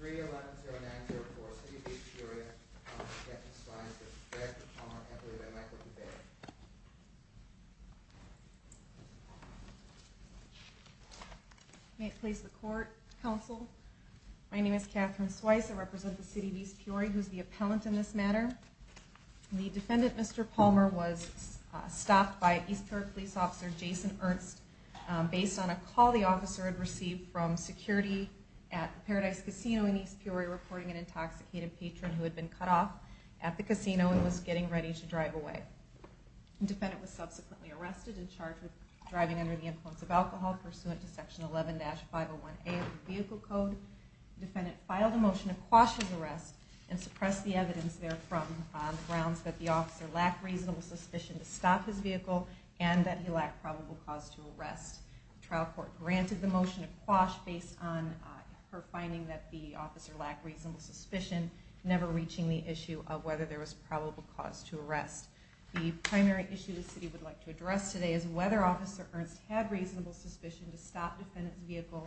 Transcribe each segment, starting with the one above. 3-11-09-04, City of East Peoria, my name is Catherine Swice, I represent the City of East Peoria, who is the appellant in this matter. The defendant, Mr. Palmer, was stopped by East Peoria police officer Jason Ernst based on a call the officer had received from security at Paradise Casino in East Peoria reporting an intoxicated patron who had been cut off at the casino and was getting ready to drive away. The defendant was subsequently arrested and charged with driving under the influence of alcohol pursuant to section 11-501A of the vehicle code. The defendant filed a motion to quash his arrest and suppress the evidence there from grounds that the officer lacked reasonable suspicion to stop his vehicle and that he lacked probable cause to arrest. The primary issue the City would like to address today is whether Officer Ernst had reasonable suspicion to stop the defendant's vehicle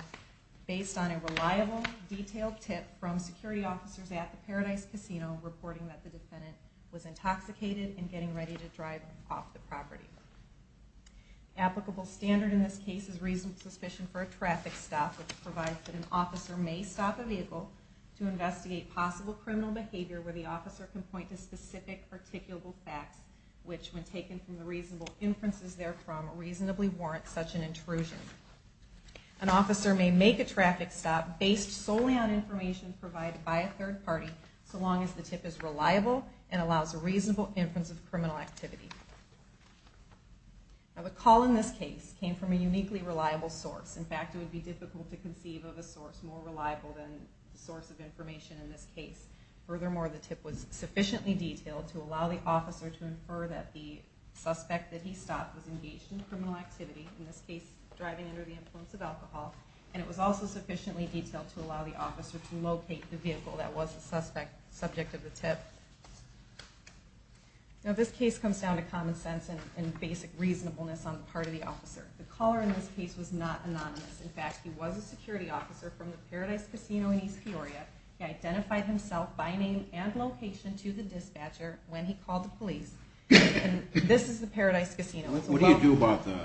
based on a reliable detailed tip from security officers at the Paradise Casino reporting that the defendant was intoxicated and getting ready to drive off the property. Applicable standard in this case is reasonable suspicion for a traffic stop which provides that an officer may stop a vehicle to investigate possible criminal behavior where the officer can point to specific articulable facts which, when taken from the reasonable inferences there from, reasonably warrant such an intrusion. An officer may make a traffic stop based solely on information provided by a third party so long as the tip is reliable and allows a reasonable inference of criminal activity. The call in this case came from a uniquely reliable source. In fact, it would be difficult to conceive of a source more reliable than the source of information in this case. Furthermore, the tip was sufficiently detailed to allow the officer to infer that the suspect that he stopped was engaged in criminal activity, in this case driving under the influence of alcohol, and it was also sufficiently detailed to allow the officer to locate the vehicle that was the subject of the tip. Now this case comes down to common sense and basic reasonableness on the part of the officer. The caller in this case was not anonymous. In fact, he was a security officer from the Paradise Casino in East Peoria. He identified himself by name and location to the dispatcher when he called the police and this is the Paradise Casino. What do you do about the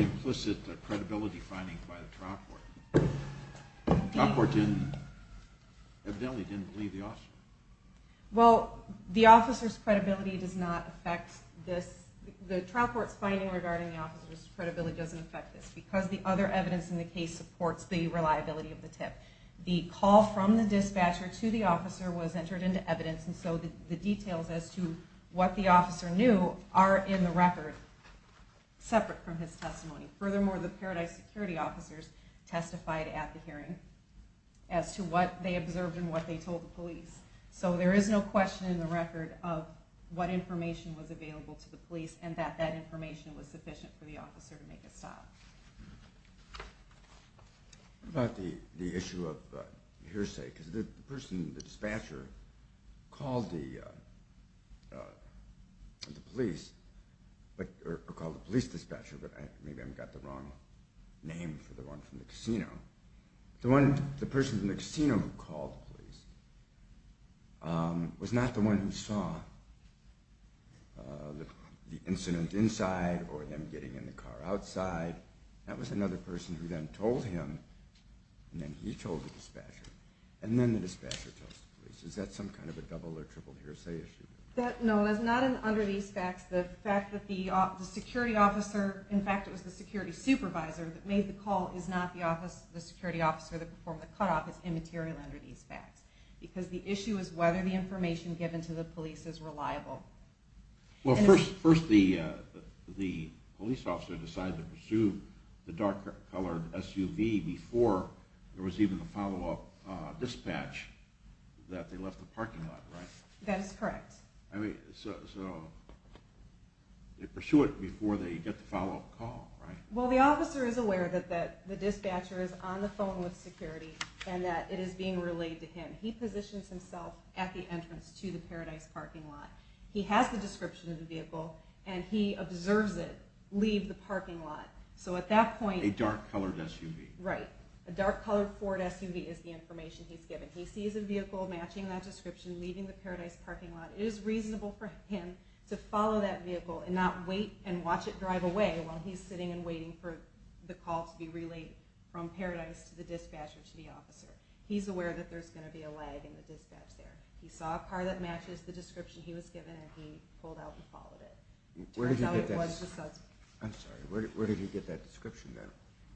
implicit credibility findings by the trial court? The trial court evidently didn't believe the officer. Well, the officer's credibility does not affect this. The trial court's finding regarding the officer's credibility doesn't affect this because the other evidence in the case supports the reliability of the tip. The call from the dispatcher to the officer was entered into evidence and so the details as to what the officer knew are in the record separate from his testimony. Furthermore, the Paradise security officers testified at the hearing as to what they observed and what they told the police. So there is no question in the record of what information was available to the police and that that information was sufficient for the officer to make a stop. What about the issue of hearsay? Because the person, the dispatcher, called the police, or called the police dispatcher, but maybe I've got the wrong name for the one from the casino. The person from the casino who called the police was not the one who saw the incident inside or them getting in the car outside. That was another person who then told him and then he told the dispatcher and then the dispatcher told the police. Is that some kind of a double or triple hearsay issue? No, it's not under these facts. The fact that the security officer, in fact it was the security supervisor, that made the call is not the security officer that performed the cutoff. It's immaterial under these facts because the issue is whether the information given to the police is reliable. Well first the police officer decided to pursue the dark colored SUV before there was even a follow-up dispatch that they left the parking lot, right? That is correct. So they pursue it before they get the follow-up call, right? Well the officer is aware that the dispatcher is on the phone with security and that it is being relayed to him. He positions himself at the entrance to the Paradise parking lot. He has the description of the vehicle and he observes it leave the parking lot. So at that point... A dark colored SUV. Right. A dark colored Ford SUV is the information he's given. He sees a vehicle matching that description leaving the Paradise parking lot. It is reasonable for him to follow that vehicle and not wait and watch it drive away while he's sitting and waiting for the call to be relayed from Paradise to the dispatcher to the officer. He's aware that there's going to be a lag in the dispatch there. He saw a car that matches the description he was given and he pulled out and followed it. I'm sorry, where did he get that description then?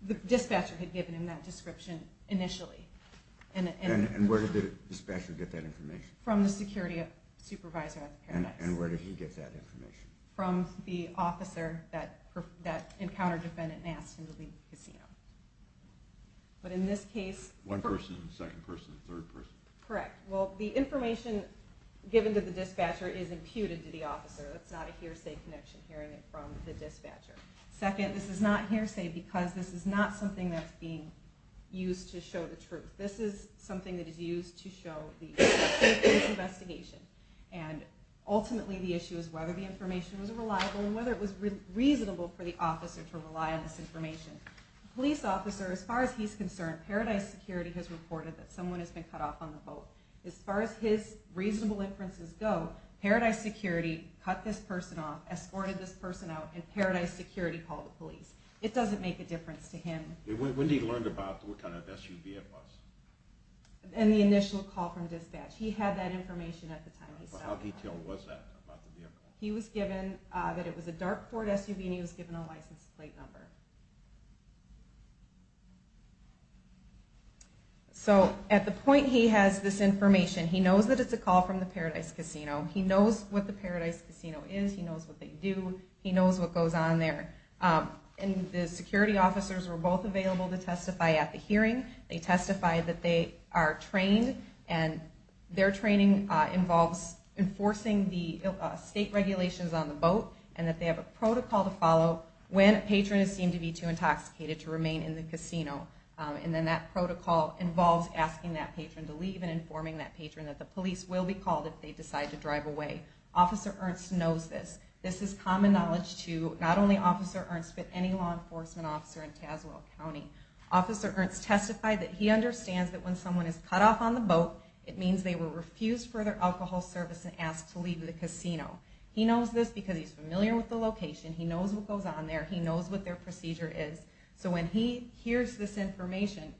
The dispatcher had given him that description initially. And where did the dispatcher get that information? From the security supervisor at the Paradise. And where did he get that information? From the officer that encountered the defendant and asked him to leave the casino. But in this case... One person, second person, third person? Correct. Well the information given to the dispatcher is imputed to the officer. It's not a hearsay connection hearing it from the dispatcher. Second, this is not hearsay because this is not something that's being used to show the truth. This is something that is used to show the safety of this investigation. And ultimately the issue is whether the information was reliable and whether it was reasonable for the officer to rely on this information. The police officer, as far as he's concerned, Paradise Security has reported that someone has been cut off on the boat. As far as his reasonable inferences go, Paradise Security cut this person off, escorted this person out, and Paradise Security called the police. It doesn't make a difference to him. When did he learn about what kind of SUV it was? In the initial call from dispatch. He had that information at the time. How detailed was that about the vehicle? He was given that it was a dark Ford SUV and he was given a license plate number. So at the point he has this information, he knows that it's a call from the Paradise Casino. He knows what the Paradise Casino is. He knows what they do. He knows what goes on there. And the security officers were both available to testify at the hearing. They testified that they are trained and their training involves enforcing the state regulations on the boat and that they have a protocol to follow. When a patron is seen to be too intoxicated to remain in the casino. And then that protocol involves asking that patron to leave and informing that patron that the police will be called if they decide to drive away. Officer Ernst knows this. This is common knowledge to not only Officer Ernst, but any law enforcement officer in Tazewell County. Officer Ernst testified that he understands that when someone is cut off on the boat, it means they were refused further alcohol service and asked to leave the casino. He knows this because he's familiar with the location. He knows what goes on there. He knows what their procedure is. So when he hears this information,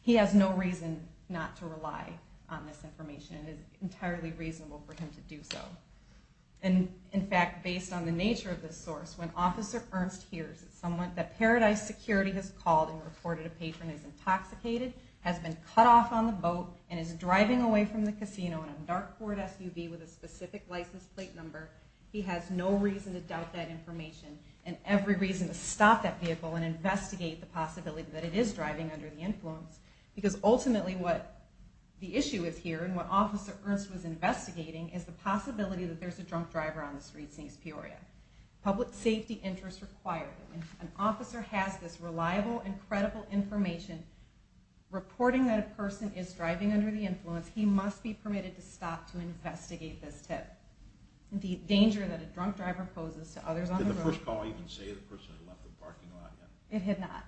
he has no reason not to rely on this information. It is entirely reasonable for him to do so. And in fact, based on the nature of this source, when Officer Ernst hears that Paradise Security has called and reported a patron is intoxicated, has been cut off on the boat, and is driving away from the casino in a dark Ford SUV with a specific license plate number, he has no reason to doubt that information and every reason to stop that vehicle and investigate the possibility that it is driving under the influence. Because ultimately what the issue is here and what Officer Ernst was investigating is the possibility that there's a drunk driver on the streets in East Peoria. Public safety interests require it. An officer has this reliable and credible information reporting that a person is driving under the influence. He must be permitted to stop to investigate this tip. The danger that a drunk driver poses to others on the road... Did the first call even say the person had left the parking lot yet? It had not.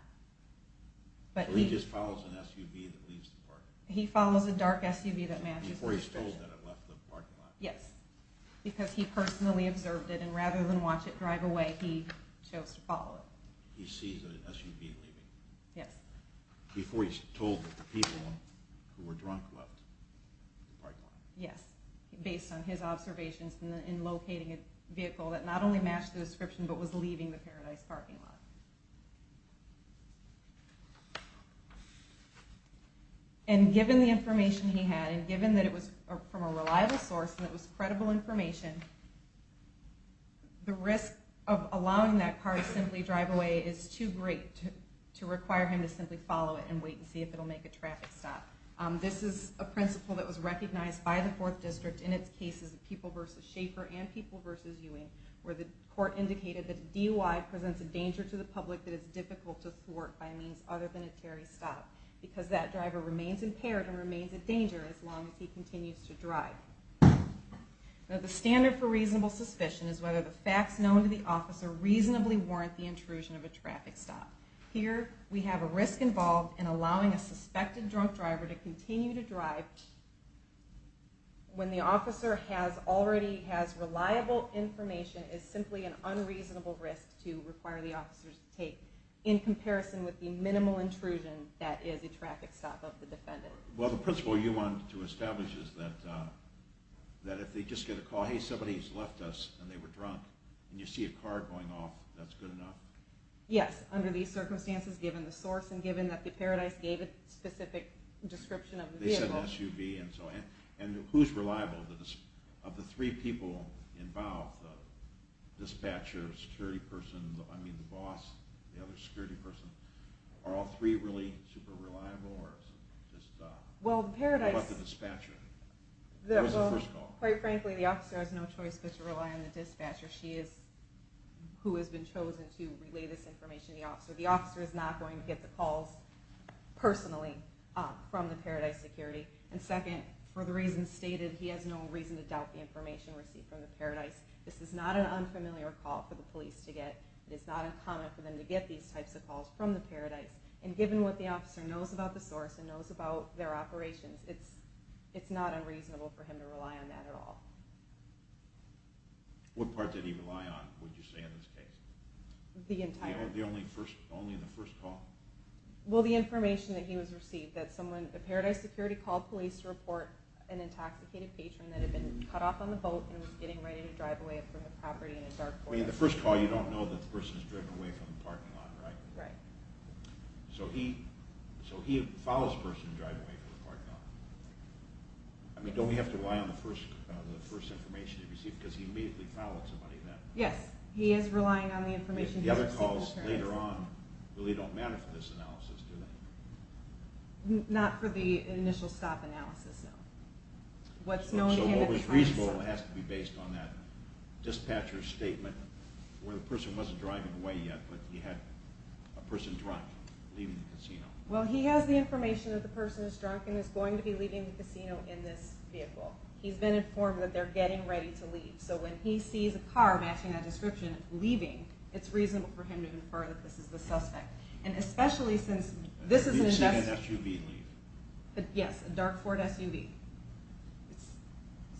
So he just follows an SUV that leaves the parking lot? He follows a dark SUV that manages the situation. Before he's told that it left the parking lot? Yes, because he personally observed it and rather than watch it drive away, he chose to follow it. He sees an SUV leaving? Yes. Before he's told that the people who were drunk left the parking lot? Yes, based on his observations in locating a vehicle that not only matched the description but was leaving the Paradise parking lot. And given the information he had, and given that it was from a reliable source and it was credible information, the risk of allowing that car to simply drive away is too great to require him to simply follow it and wait and see if it will make a traffic stop. This is a principle that was recognized by the 4th District in its cases of People v. Schaefer and People v. Ewing, where the court indicated that a DUI presents a danger to the public that is difficult to thwart by means other than a Terry stop, because that driver remains impaired and remains a danger as long as he continues to drive. The standard for reasonable suspicion is whether the facts known to the officer reasonably warrant the intrusion of a traffic stop. Here, we have a risk involved in allowing a suspected drunk driver to continue to drive when the officer already has reliable information is simply an unreasonable risk to require the officer to take in comparison with the minimal intrusion that is a traffic stop of the defendant. Well, the principle you want to establish is that if they just get a call, hey, somebody's left us and they were drunk, and you see a car going off, that's good enough? Yes, under these circumstances, given the source and given that the Paradise gave a specific description of the vehicle. And who's reliable? Of the three people involved, the dispatcher, the security person, the boss, the other security person, are all three really super reliable, or is it just the dispatcher? Quite frankly, the officer has no choice but to rely on the dispatcher, who has been chosen to relay this information to the officer. The officer is not going to get the calls personally from the Paradise security. And second, for the reasons stated, he has no reason to doubt the information received from the Paradise. This is not an unfamiliar call for the police to get. It is not uncommon for them to get these types of calls from the Paradise. And given what the officer knows about the source and knows about their operations, it's not unreasonable for him to rely on that at all. What part did he rely on, would you say, in this case? Only in the first call? Well, the information that he was received. The Paradise security called police to report an intoxicated patron that had been cut off on the boat and was getting ready to drive away from the property in a dark Corvette. In the first call, you don't know that the person is driving away from the parking lot, right? Right. So he follows the person who's driving away from the parking lot. I mean, don't we have to rely on the first information he received? Because he immediately followed somebody then. Yes, he is relying on the information he received. The other calls later on really don't matter for this analysis, do they? Not for the initial stop analysis, no. So what was reasonable has to be based on that dispatcher's statement where the person wasn't driving away yet, but he had a person drunk leaving the casino. Well, he has the information that the person is drunk and is going to be leaving the casino in this vehicle. He's been informed that they're getting ready to leave. So when he sees a car matching that description, leaving, it's reasonable for him to infer that this is the suspect. And especially since this is an investigation. He's seen an SUV leave. Yes, a dark Ford SUV.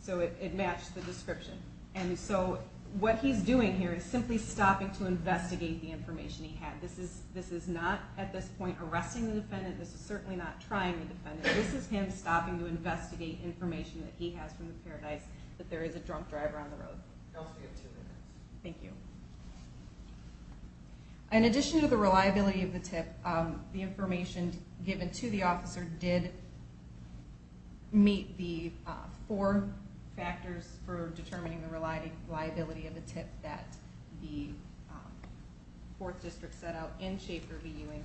So it matched the description. And so what he's doing here is simply stopping to investigate the information he had. This is not, at this point, arresting the defendant. This is certainly not trying the defendant. This is him stopping to investigate information that he has from the Paradise, that there is a drunk driver on the road. You also get two minutes. Thank you. In addition to the reliability of the tip, the information given to the officer did meet the four factors for determining the reliability of the tip that the 4th District set out in Schaefer v. Ewing.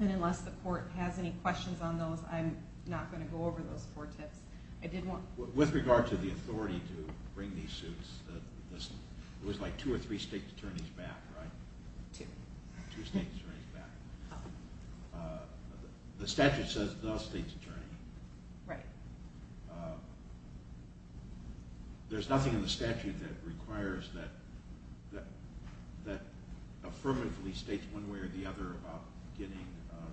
And unless the court has any questions on those, I'm not going to go over those four tips. With regard to the authority to bring these suits, it was like two or three state attorneys back, right? Two. Two state attorneys back. The statute says no state attorney. Right. There's nothing in the statute that requires that affirmatively states one way or the other about getting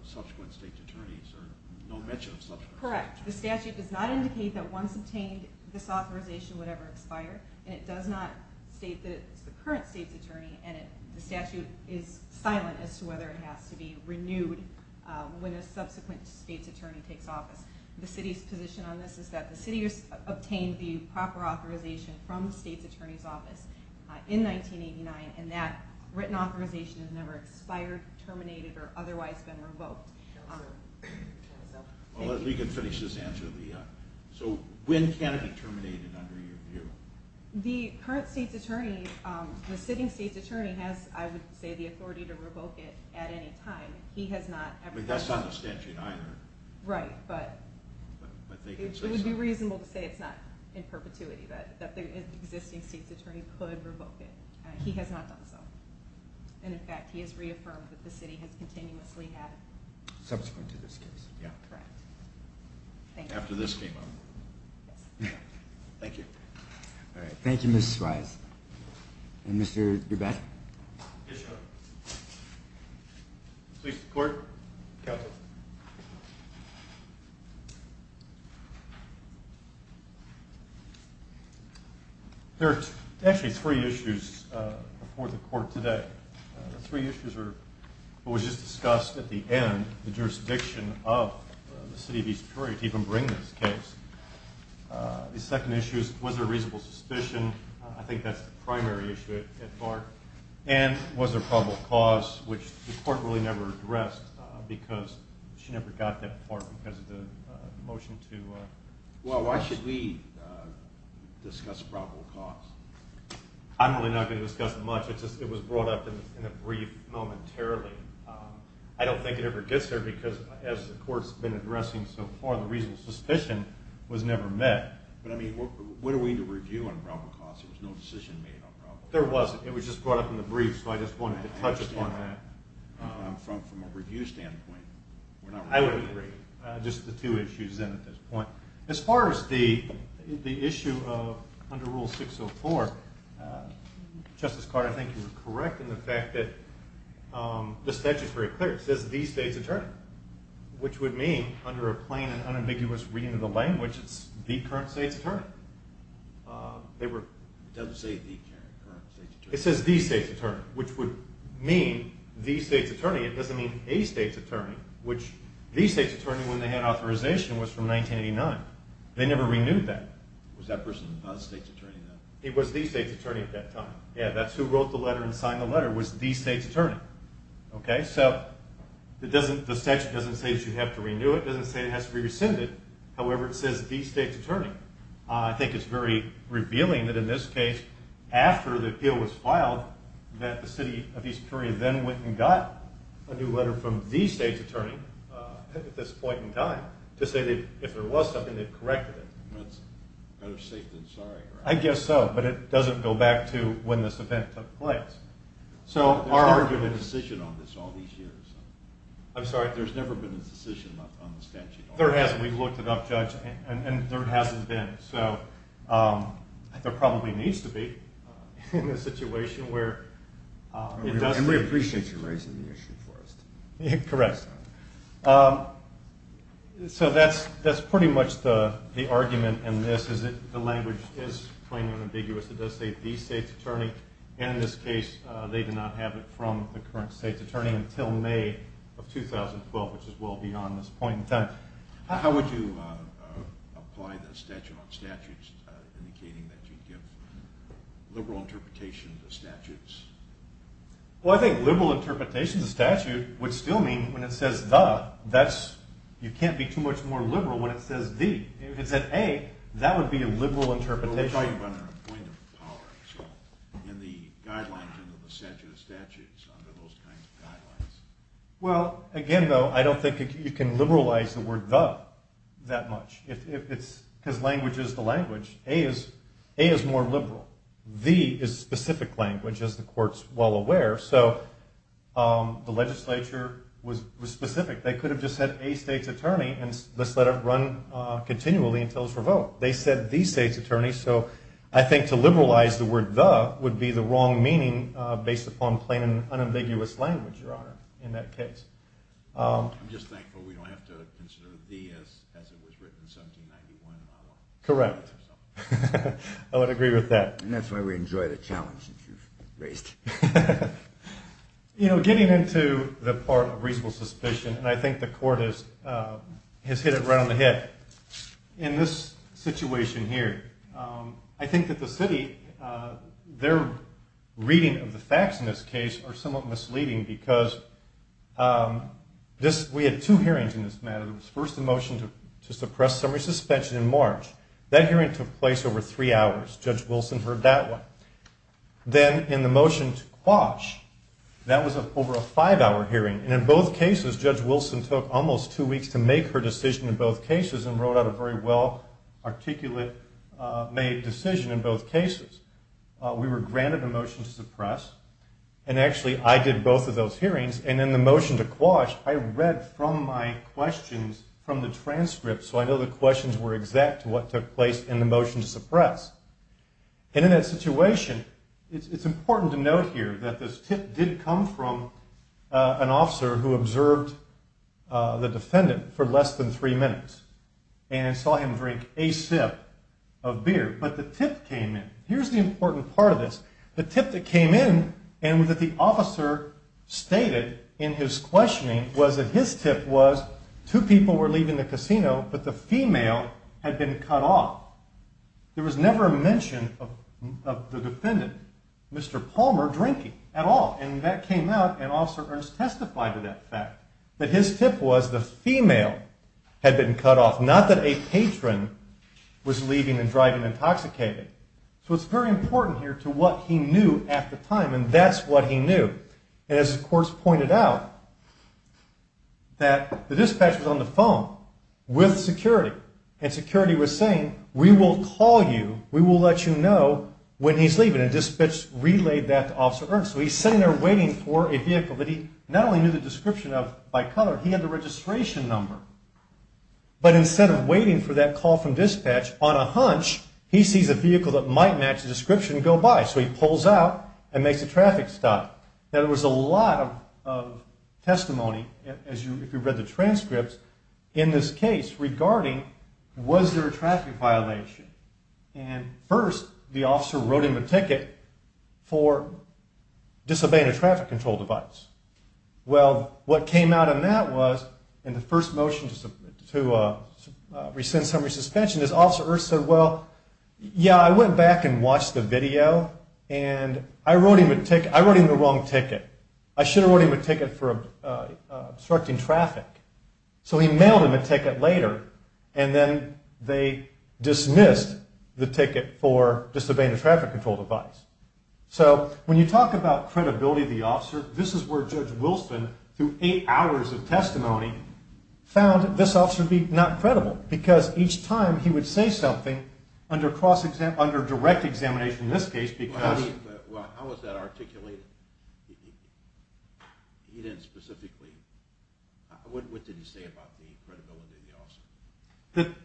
subsequent state attorneys or no mention of subsequent state attorneys. Correct. The statute does not indicate that once obtained, this authorization would ever expire, and it does not state that it's the current state's attorney, and the statute is silent as to whether it has to be renewed when a subsequent state's attorney takes office. The city's position on this is that the city obtained the proper authorization from the state's attorney's office in 1989, and that written authorization has never expired, terminated, or otherwise been revoked. Well, we can finish this answer. So when can it be terminated under your view? The current state's attorney, the sitting state's attorney, has, I would say, the authority to revoke it at any time. But that's not the statute either. Right, but it would be reasonable to say it's not in perpetuity, that the existing state's attorney could revoke it. He has not done so. And, in fact, he has reaffirmed that the city has continuously had it. Subsequent to this case. Yeah. Correct. Thank you. After this came up. Yes. Thank you. All right. Thank you, Ms. Swyatt. And Mr. Dubé? Yes, Your Honor. Please report, counsel. Thank you. There are actually three issues before the court today. The three issues are what was just discussed at the end, the jurisdiction of the city of East Peoria to even bring this case. The second issue is was there reasonable suspicion? I think that's the primary issue at heart. And was there probable cause, which the court really never addressed because she never got that part because of the motion to. Well, why should we discuss probable cause? I'm really not going to discuss it much. It was brought up in a brief momentarily. I don't think it ever gets there because, as the court's been addressing so far, the reasonable suspicion was never met. But, I mean, what are we to review on probable cause? There was no decision made on probable cause. There wasn't. It was just brought up in the brief, so I just wanted to touch upon that. From a review standpoint, we're not reviewing it. I would agree. Just the two issues then at this point. As far as the issue of under Rule 604, Justice Carter, I think you were correct in the fact that the statute is very clear. It says the state's attorney, which would mean under a plain and unambiguous reading of the language, it's the current state's attorney. It doesn't say the current state's attorney. It says the state's attorney, which would mean the state's attorney. It doesn't mean a state's attorney, which the state's attorney when they had authorization was from 1989. They never renewed that. Was that person not a state's attorney then? He was the state's attorney at that time. That's who wrote the letter and signed the letter was the state's attorney. So the statute doesn't say that you have to renew it. However, it says the state's attorney. I think it's very revealing that in this case, after the appeal was filed, that the city of East Prairie then went and got a new letter from the state's attorney at this point in time to say that if there was something, they'd correct it. That's better safe than sorry, right? I guess so, but it doesn't go back to when this event took place. There's never been a decision on this all these years. I'm sorry? There's never been a decision on the statute. There hasn't. We've looked it up, Judge, and there hasn't been. There probably needs to be in this situation. And we appreciate you raising the issue for us. Correct. So that's pretty much the argument in this. The language is plain and ambiguous. It does say the state's attorney, and in this case, they did not have it from the current state's attorney until May of 2012, which is well beyond this point in time. How would you apply the statute on statutes indicating that you'd give liberal interpretation of the statutes? Well, I think liberal interpretation of the statute would still mean when it says the, you can't be too much more liberal when it says the. If it said a, that would be a liberal interpretation. Well, let me tell you about a point of power, actually, under those kinds of guidelines. Well, again, though, I don't think you can liberalize the word the that much. It's because language is the language. A is more liberal. The is specific language, as the Court's well aware, so the legislature was specific. They could have just said a state's attorney and just let it run continually until it was revoked. They said the state's attorney, so I think to liberalize the word the would be the wrong meaning based upon plain and unambiguous language, Your Honor. I'm just thankful we don't have to consider the as it was written in 1791. Correct. I would agree with that. And that's why we enjoy the challenge that you've raised. You know, getting into the part of reasonable suspicion, and I think the Court has hit it right on the head. In this situation here, I think that the city, their reading of the facts in this case are somewhat misleading because we had two hearings in this matter. It was first the motion to suppress summary suspension in March. That hearing took place over three hours. Judge Wilson heard that one. Then in the motion to quash, that was over a five-hour hearing, and in both cases, Judge Wilson took almost two weeks to make her decision in both cases and wrote out a very well-articulate made decision in both cases. We were granted a motion to suppress, and actually I did both of those hearings, and in the motion to quash, I read from my questions from the transcript, so I know the questions were exact to what took place in the motion to suppress. And in that situation, it's important to note here that this tip did come from an officer who observed the defendant for less than three minutes and saw him drink a sip of beer, but the tip came in. Here's the important part of this. The tip that came in and that the officer stated in his questioning was that his tip was two people were leaving the casino, but the female had been cut off. There was never a mention of the defendant, Mr. Palmer, drinking at all, and that came out, and Officer Ernst testified to that fact, that his tip was the female had been cut off, not that a patron was leaving and driving intoxicated. So it's very important here to what he knew at the time, and that's what he knew. As of course pointed out, that the dispatch was on the phone with security, and security was saying, we will call you, we will let you know when he's leaving, and dispatch relayed that to Officer Ernst. So he's sitting there waiting for a vehicle, but he not only knew the description by color, he had the registration number. But instead of waiting for that call from dispatch, on a hunch, he sees a vehicle that might match the description go by, so he pulls out and makes the traffic stop. There was a lot of testimony, if you read the transcripts, in this case regarding was there a traffic violation. And first, the officer wrote him a ticket for disobeying a traffic control device. Well, what came out of that was, in the first motion to rescind summary suspension, Officer Ernst said, well, yeah, I went back and watched the video, and I wrote him the wrong ticket. I should have wrote him a ticket for obstructing traffic. So he mailed him a ticket later, and then they dismissed the ticket for disobeying a traffic control device. So when you talk about credibility of the officer, this is where Judge Wilson, through eight hours of testimony, found this officer to be not credible, because each time he would say something, under direct examination in this case, because... Well, how was that articulated? He didn't specifically... What did he say about the credibility of the officer?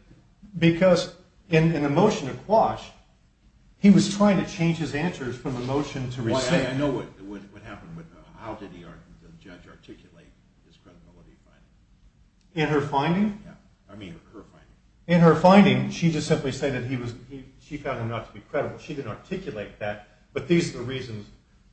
Because in the motion to quash, he was trying to change his answers from the motion to rescind. I know what happened. How did the judge articulate his credibility finding? In her finding? In her finding, she just simply said that she found him not to be credible. She didn't articulate that, but these are the reasons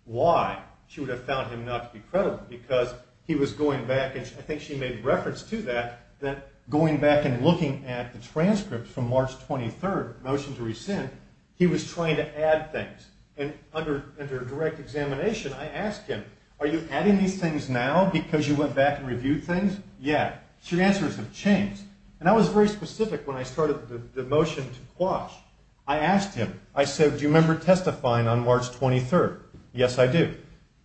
why she would have found him not to be credible, because he was going back, and I think she made reference to that, that going back and looking at the transcript from March 23rd, motion to rescind, he was trying to add things. And under direct examination, I asked him, are you adding these things now because you went back and reviewed things? Yeah. So your answers have changed. And I was very specific when I started the motion to quash. I asked him, I said, do you remember testifying on March 23rd? Yes, I do.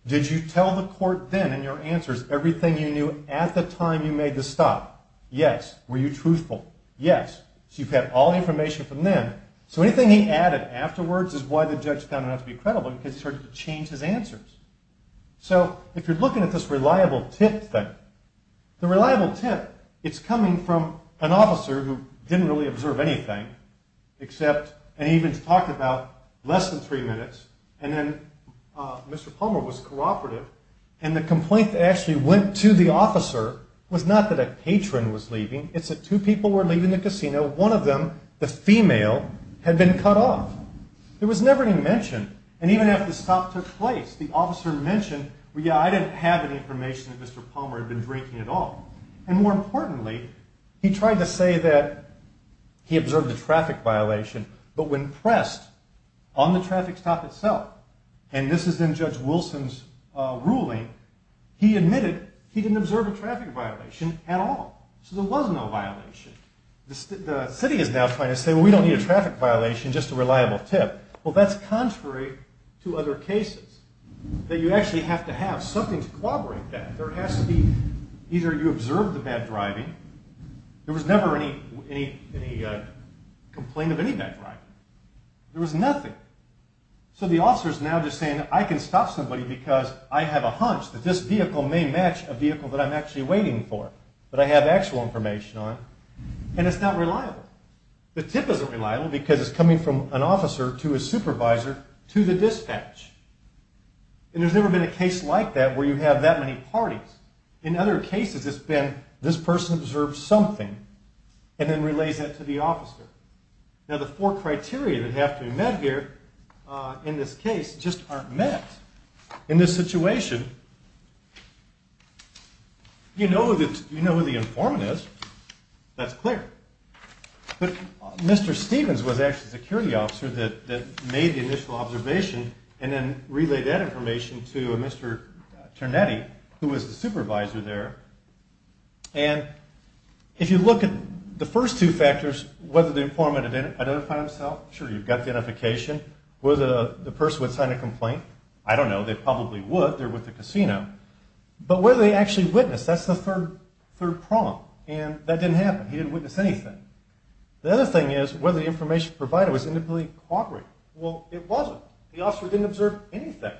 Did you tell the court then in your answers everything you knew at the time you made the stop? Yes. Were you truthful? Yes. So you've had all the information from then. So anything he added afterwards is why the judge found him not to be credible, and can start to change his answers. So if you're looking at this reliable tip thing, the reliable tip, it's coming from an officer who didn't really observe anything, and he even talked about less than three minutes, and then Mr. Palmer was cooperative, and the complaint that actually went to the officer was not that a patron was leaving, it's that two people were leaving the casino, one of them, the female, had been cut off. There was never any mention. And even after the stop took place, the officer mentioned, yeah, I didn't have any information that Mr. Palmer had been drinking at all. And more importantly, he tried to say that he observed a traffic violation, but when pressed on the traffic stop itself, and this is in Judge Wilson's ruling, he admitted he didn't observe a traffic violation at all. So there was no violation. The city is now trying to say, well, we don't need a traffic violation, just a reliable tip. Well, that's contrary to other cases, that you actually have to have something to corroborate that. Either you observed the bad driving, there was never any complaint of any bad driving. There was nothing. So the officer is now just saying, I can stop somebody because I have a hunch that this vehicle may match a vehicle that I'm actually waiting for, that I have actual information on, and it's not reliable. The tip isn't reliable because it's coming from an officer to a supervisor to the dispatch. And there's never been a case like that where you have that many parties. In other cases, it's been this person observed something and then relays that to the officer. Now, the four criteria that have to be met here in this case just aren't met. In this situation, you know who the informant is. That's clear. But Mr. Stevens was actually the security officer that made the initial observation and then relayed that information to Mr. Ternetti, who was the supervisor there. And if you look at the first two factors, whether the informant identified himself, sure, you've got the identification. Whether the person would sign a complaint, I don't know. They probably would. They're with the casino. But whether they actually witnessed, that's the third prong. And that didn't happen. He didn't witness anything. The other thing is whether the information provided was individually corroborated. Well, it wasn't. The officer didn't observe anything.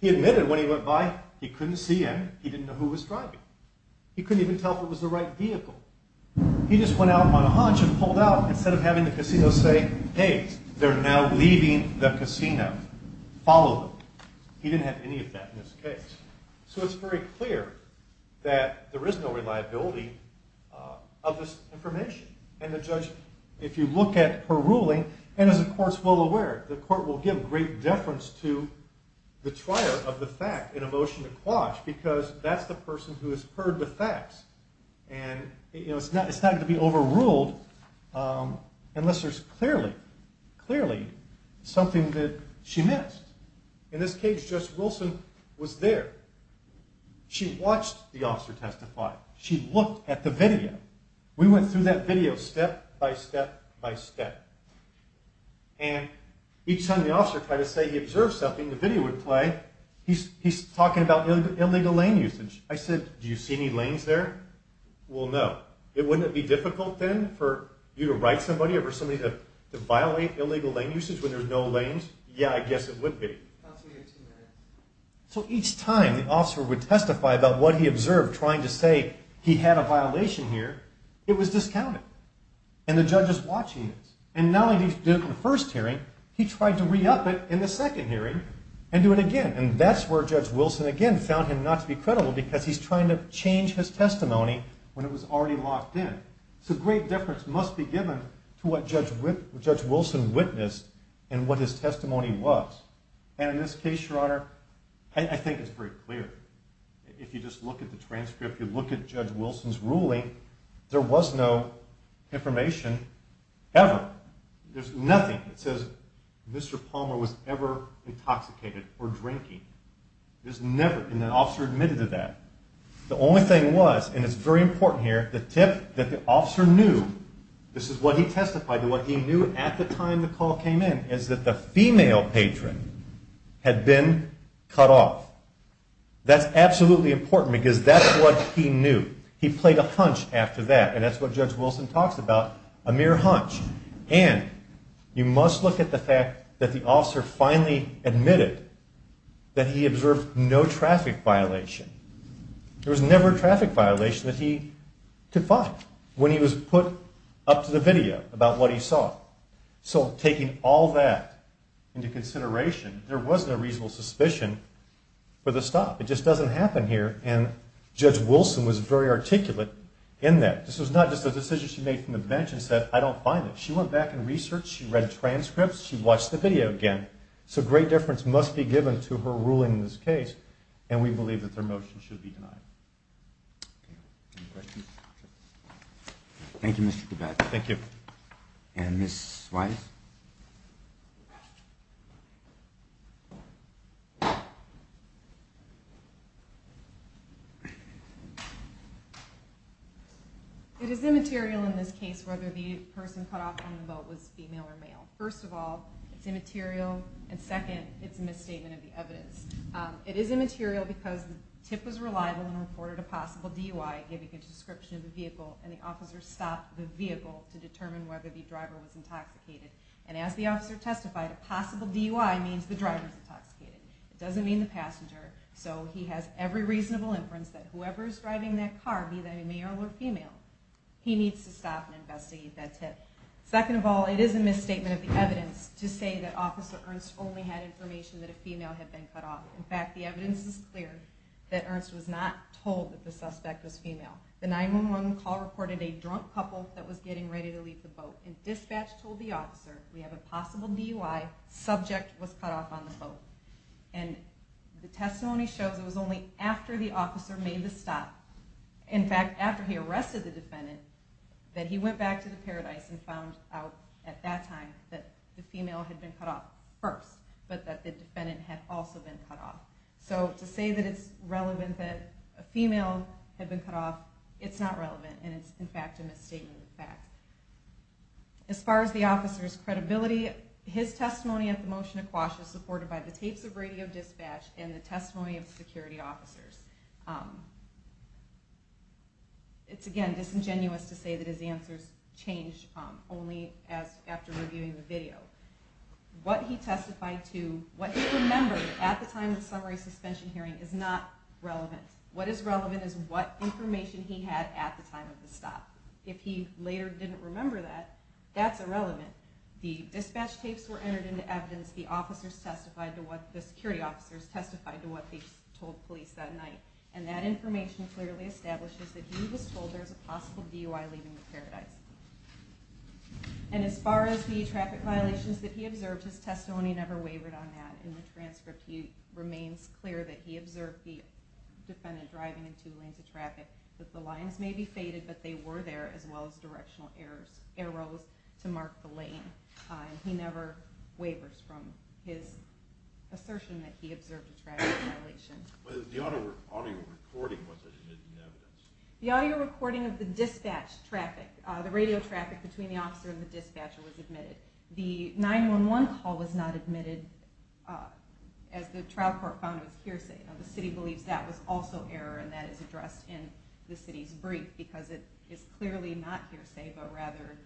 He admitted when he went by, he couldn't see anything. He didn't know who was driving. He couldn't even tell if it was the right vehicle. He just went out on a hunch and pulled out instead of having the casino say, hey, they're now leaving the casino. Follow them. He didn't have any of that in this case. So it's very clear that there is no reliability of this information. And the judge, if you look at her ruling, and as the court's well aware, the court will give great deference to the trier of the fact in a motion to quash because that's the person who has heard the facts. And it's not going to be overruled unless there's clearly, clearly something that she missed. In this case, Judge Wilson was there. She watched the officer testify. She looked at the video. We went through that video step by step by step. And each time the officer tried to say he observed something, the video would play, he's talking about illegal lane usage. I said, do you see any lanes there? Well, no. Wouldn't it be difficult then for you to write somebody or for somebody to violate illegal lane usage when there's no lanes? Yeah, I guess it would be. So each time the officer would testify about what he observed trying to say he had a violation here, it was discounted. And the judge is watching this. And not only did he do it in the first hearing, he tried to re-up it in the second hearing and do it again. And that's where Judge Wilson again found him not to be credible because he's trying to change his testimony when it was already locked in. So great deference must be given to what Judge Wilson witnessed and what his testimony was. And in this case, Your Honor, I think it's very clear. If you just look at the transcript, if you look at Judge Wilson's ruling, there was no information ever. There's nothing that says Mr. Palmer was ever intoxicated or drinking. There's never been an officer admitted to that. The only thing was, and it's very important here, the tip that the officer knew, this is what he testified, that what he knew at the time the call came in is that the female patron had been cut off. That's absolutely important because that's what he knew. He played a hunch after that, and that's what Judge Wilson talks about, a mere hunch. And you must look at the fact that the officer finally admitted that he observed no traffic violation. There was never a traffic violation that he could find when he was put up to the video about what he saw. So taking all that into consideration, there was no reasonable suspicion for the stop. It just doesn't happen here, and Judge Wilson was very articulate in that. This was not just a decision she made from the bench and said, I don't find it. She went back and researched, she read transcripts, she watched the video again. So great difference must be given to her ruling in this case, and we believe that their motion should be denied. Any questions? Thank you, Mr. Kovacs. And Ms. Weiss? It is immaterial in this case whether the person cut off on the boat was female or male. First of all, it's immaterial, and second, it's a misstatement of the evidence. It is immaterial because the tip was reliable and reported a possible DUI, giving a description of the vehicle, and the officer stopped the vehicle to determine whether the driver was intoxicated. And as the officer testified, a possible DUI means the driver's intoxicated. It doesn't mean the passenger. So he has every reasonable inference that whoever's driving that car, be that a male or female, he needs to stop and investigate that tip. Second of all, it is a misstatement of the evidence to say that Officer Ernst only had information that a female had been cut off. In fact, the evidence is clear that Ernst was not told that the suspect was female. The 911 call reported a drunk couple that was getting ready to leave the boat, and dispatch told the officer, we have a possible DUI, subject was cut off on the boat. And the testimony shows it was only after the officer made the stop, in fact, after he arrested the defendant, that he went back to the Paradise and found out at that time that the female had been cut off first, but that the defendant had also been cut off. So to say that it's relevant that a female had been cut off, it's not relevant, and it's in fact a misstatement of fact. As far as the officer's credibility, his testimony at the motion of quash is supported by the tapes of radio dispatch and the testimony of security officers. It's, again, disingenuous to say that his answers changed only after reviewing the video. What he testified to, what he remembered at the time of the summary suspension hearing is not relevant. What is relevant is what information he had at the time of the stop. If he later didn't remember that, that's irrelevant. The dispatch tapes were entered into evidence. The security officers testified to what they told police that night. And that information clearly establishes that he was told there's a possible DUI leaving the Paradise. And as far as the traffic violations that he observed, his testimony never wavered on that. In the transcript, it remains clear that he observed the defendant driving in two lanes of traffic, that the lines may be faded, but they were there, as well as directional arrows to mark the lane. And he never wavers from his assertion that he observed a traffic violation. But the audio recording was a hidden evidence. The audio recording of the dispatch traffic, the radio traffic between the officer and the dispatcher was admitted. The 911 call was not admitted, as the trial court found it was hearsay. Now, the city believes that was also error, and that is addressed in the city's brief, because it is clearly not hearsay, but rather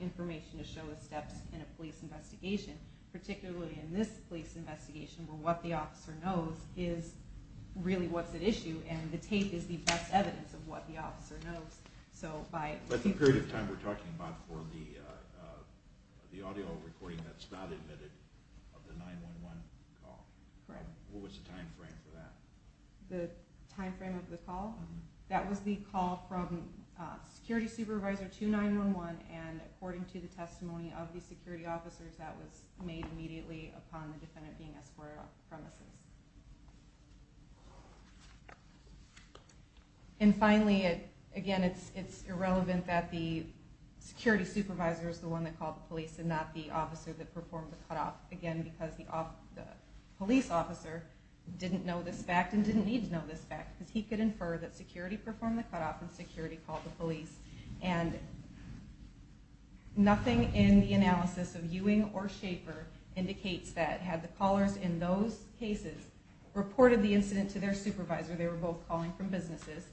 information to show the steps in a police investigation, particularly in this police investigation, where what the officer knows is really what's at issue, and the tape is the best evidence of what the officer knows. But the period of time we're talking about for the audio recording that's not admitted of the 911 call, what was the time frame for that? The time frame of the call? That was the call from Security Supervisor 2911, and according to the testimony of the security officers, that was made immediately upon the defendant being escorted off the premises. And finally, again, it's irrelevant that the security supervisor is the one that called the police, and not the officer that performed the cutoff, again, because the police officer didn't know this fact and didn't need to know this fact, because he could infer that security performed the cutoff and security called the police. And nothing in the analysis of Ewing or Schaefer indicates that had the callers in those cases reported the incident to their supervisor, they were both calling from businesses,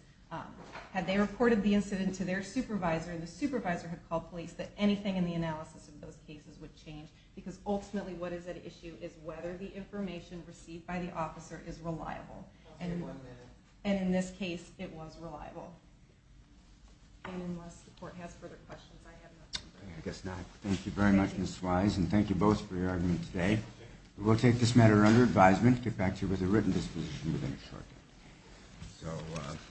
had they reported the incident to their supervisor and the supervisor had called police, that anything in the analysis of those cases would change, because ultimately what is at issue is whether the information received by the officer is reliable. And in this case, it was reliable. And unless the court has further questions, I have nothing further to say. I guess not. Thank you very much, Ms. Wise, and thank you both for your argument today. We will take this matter under advisement and get back to you with a written disposition within a short time.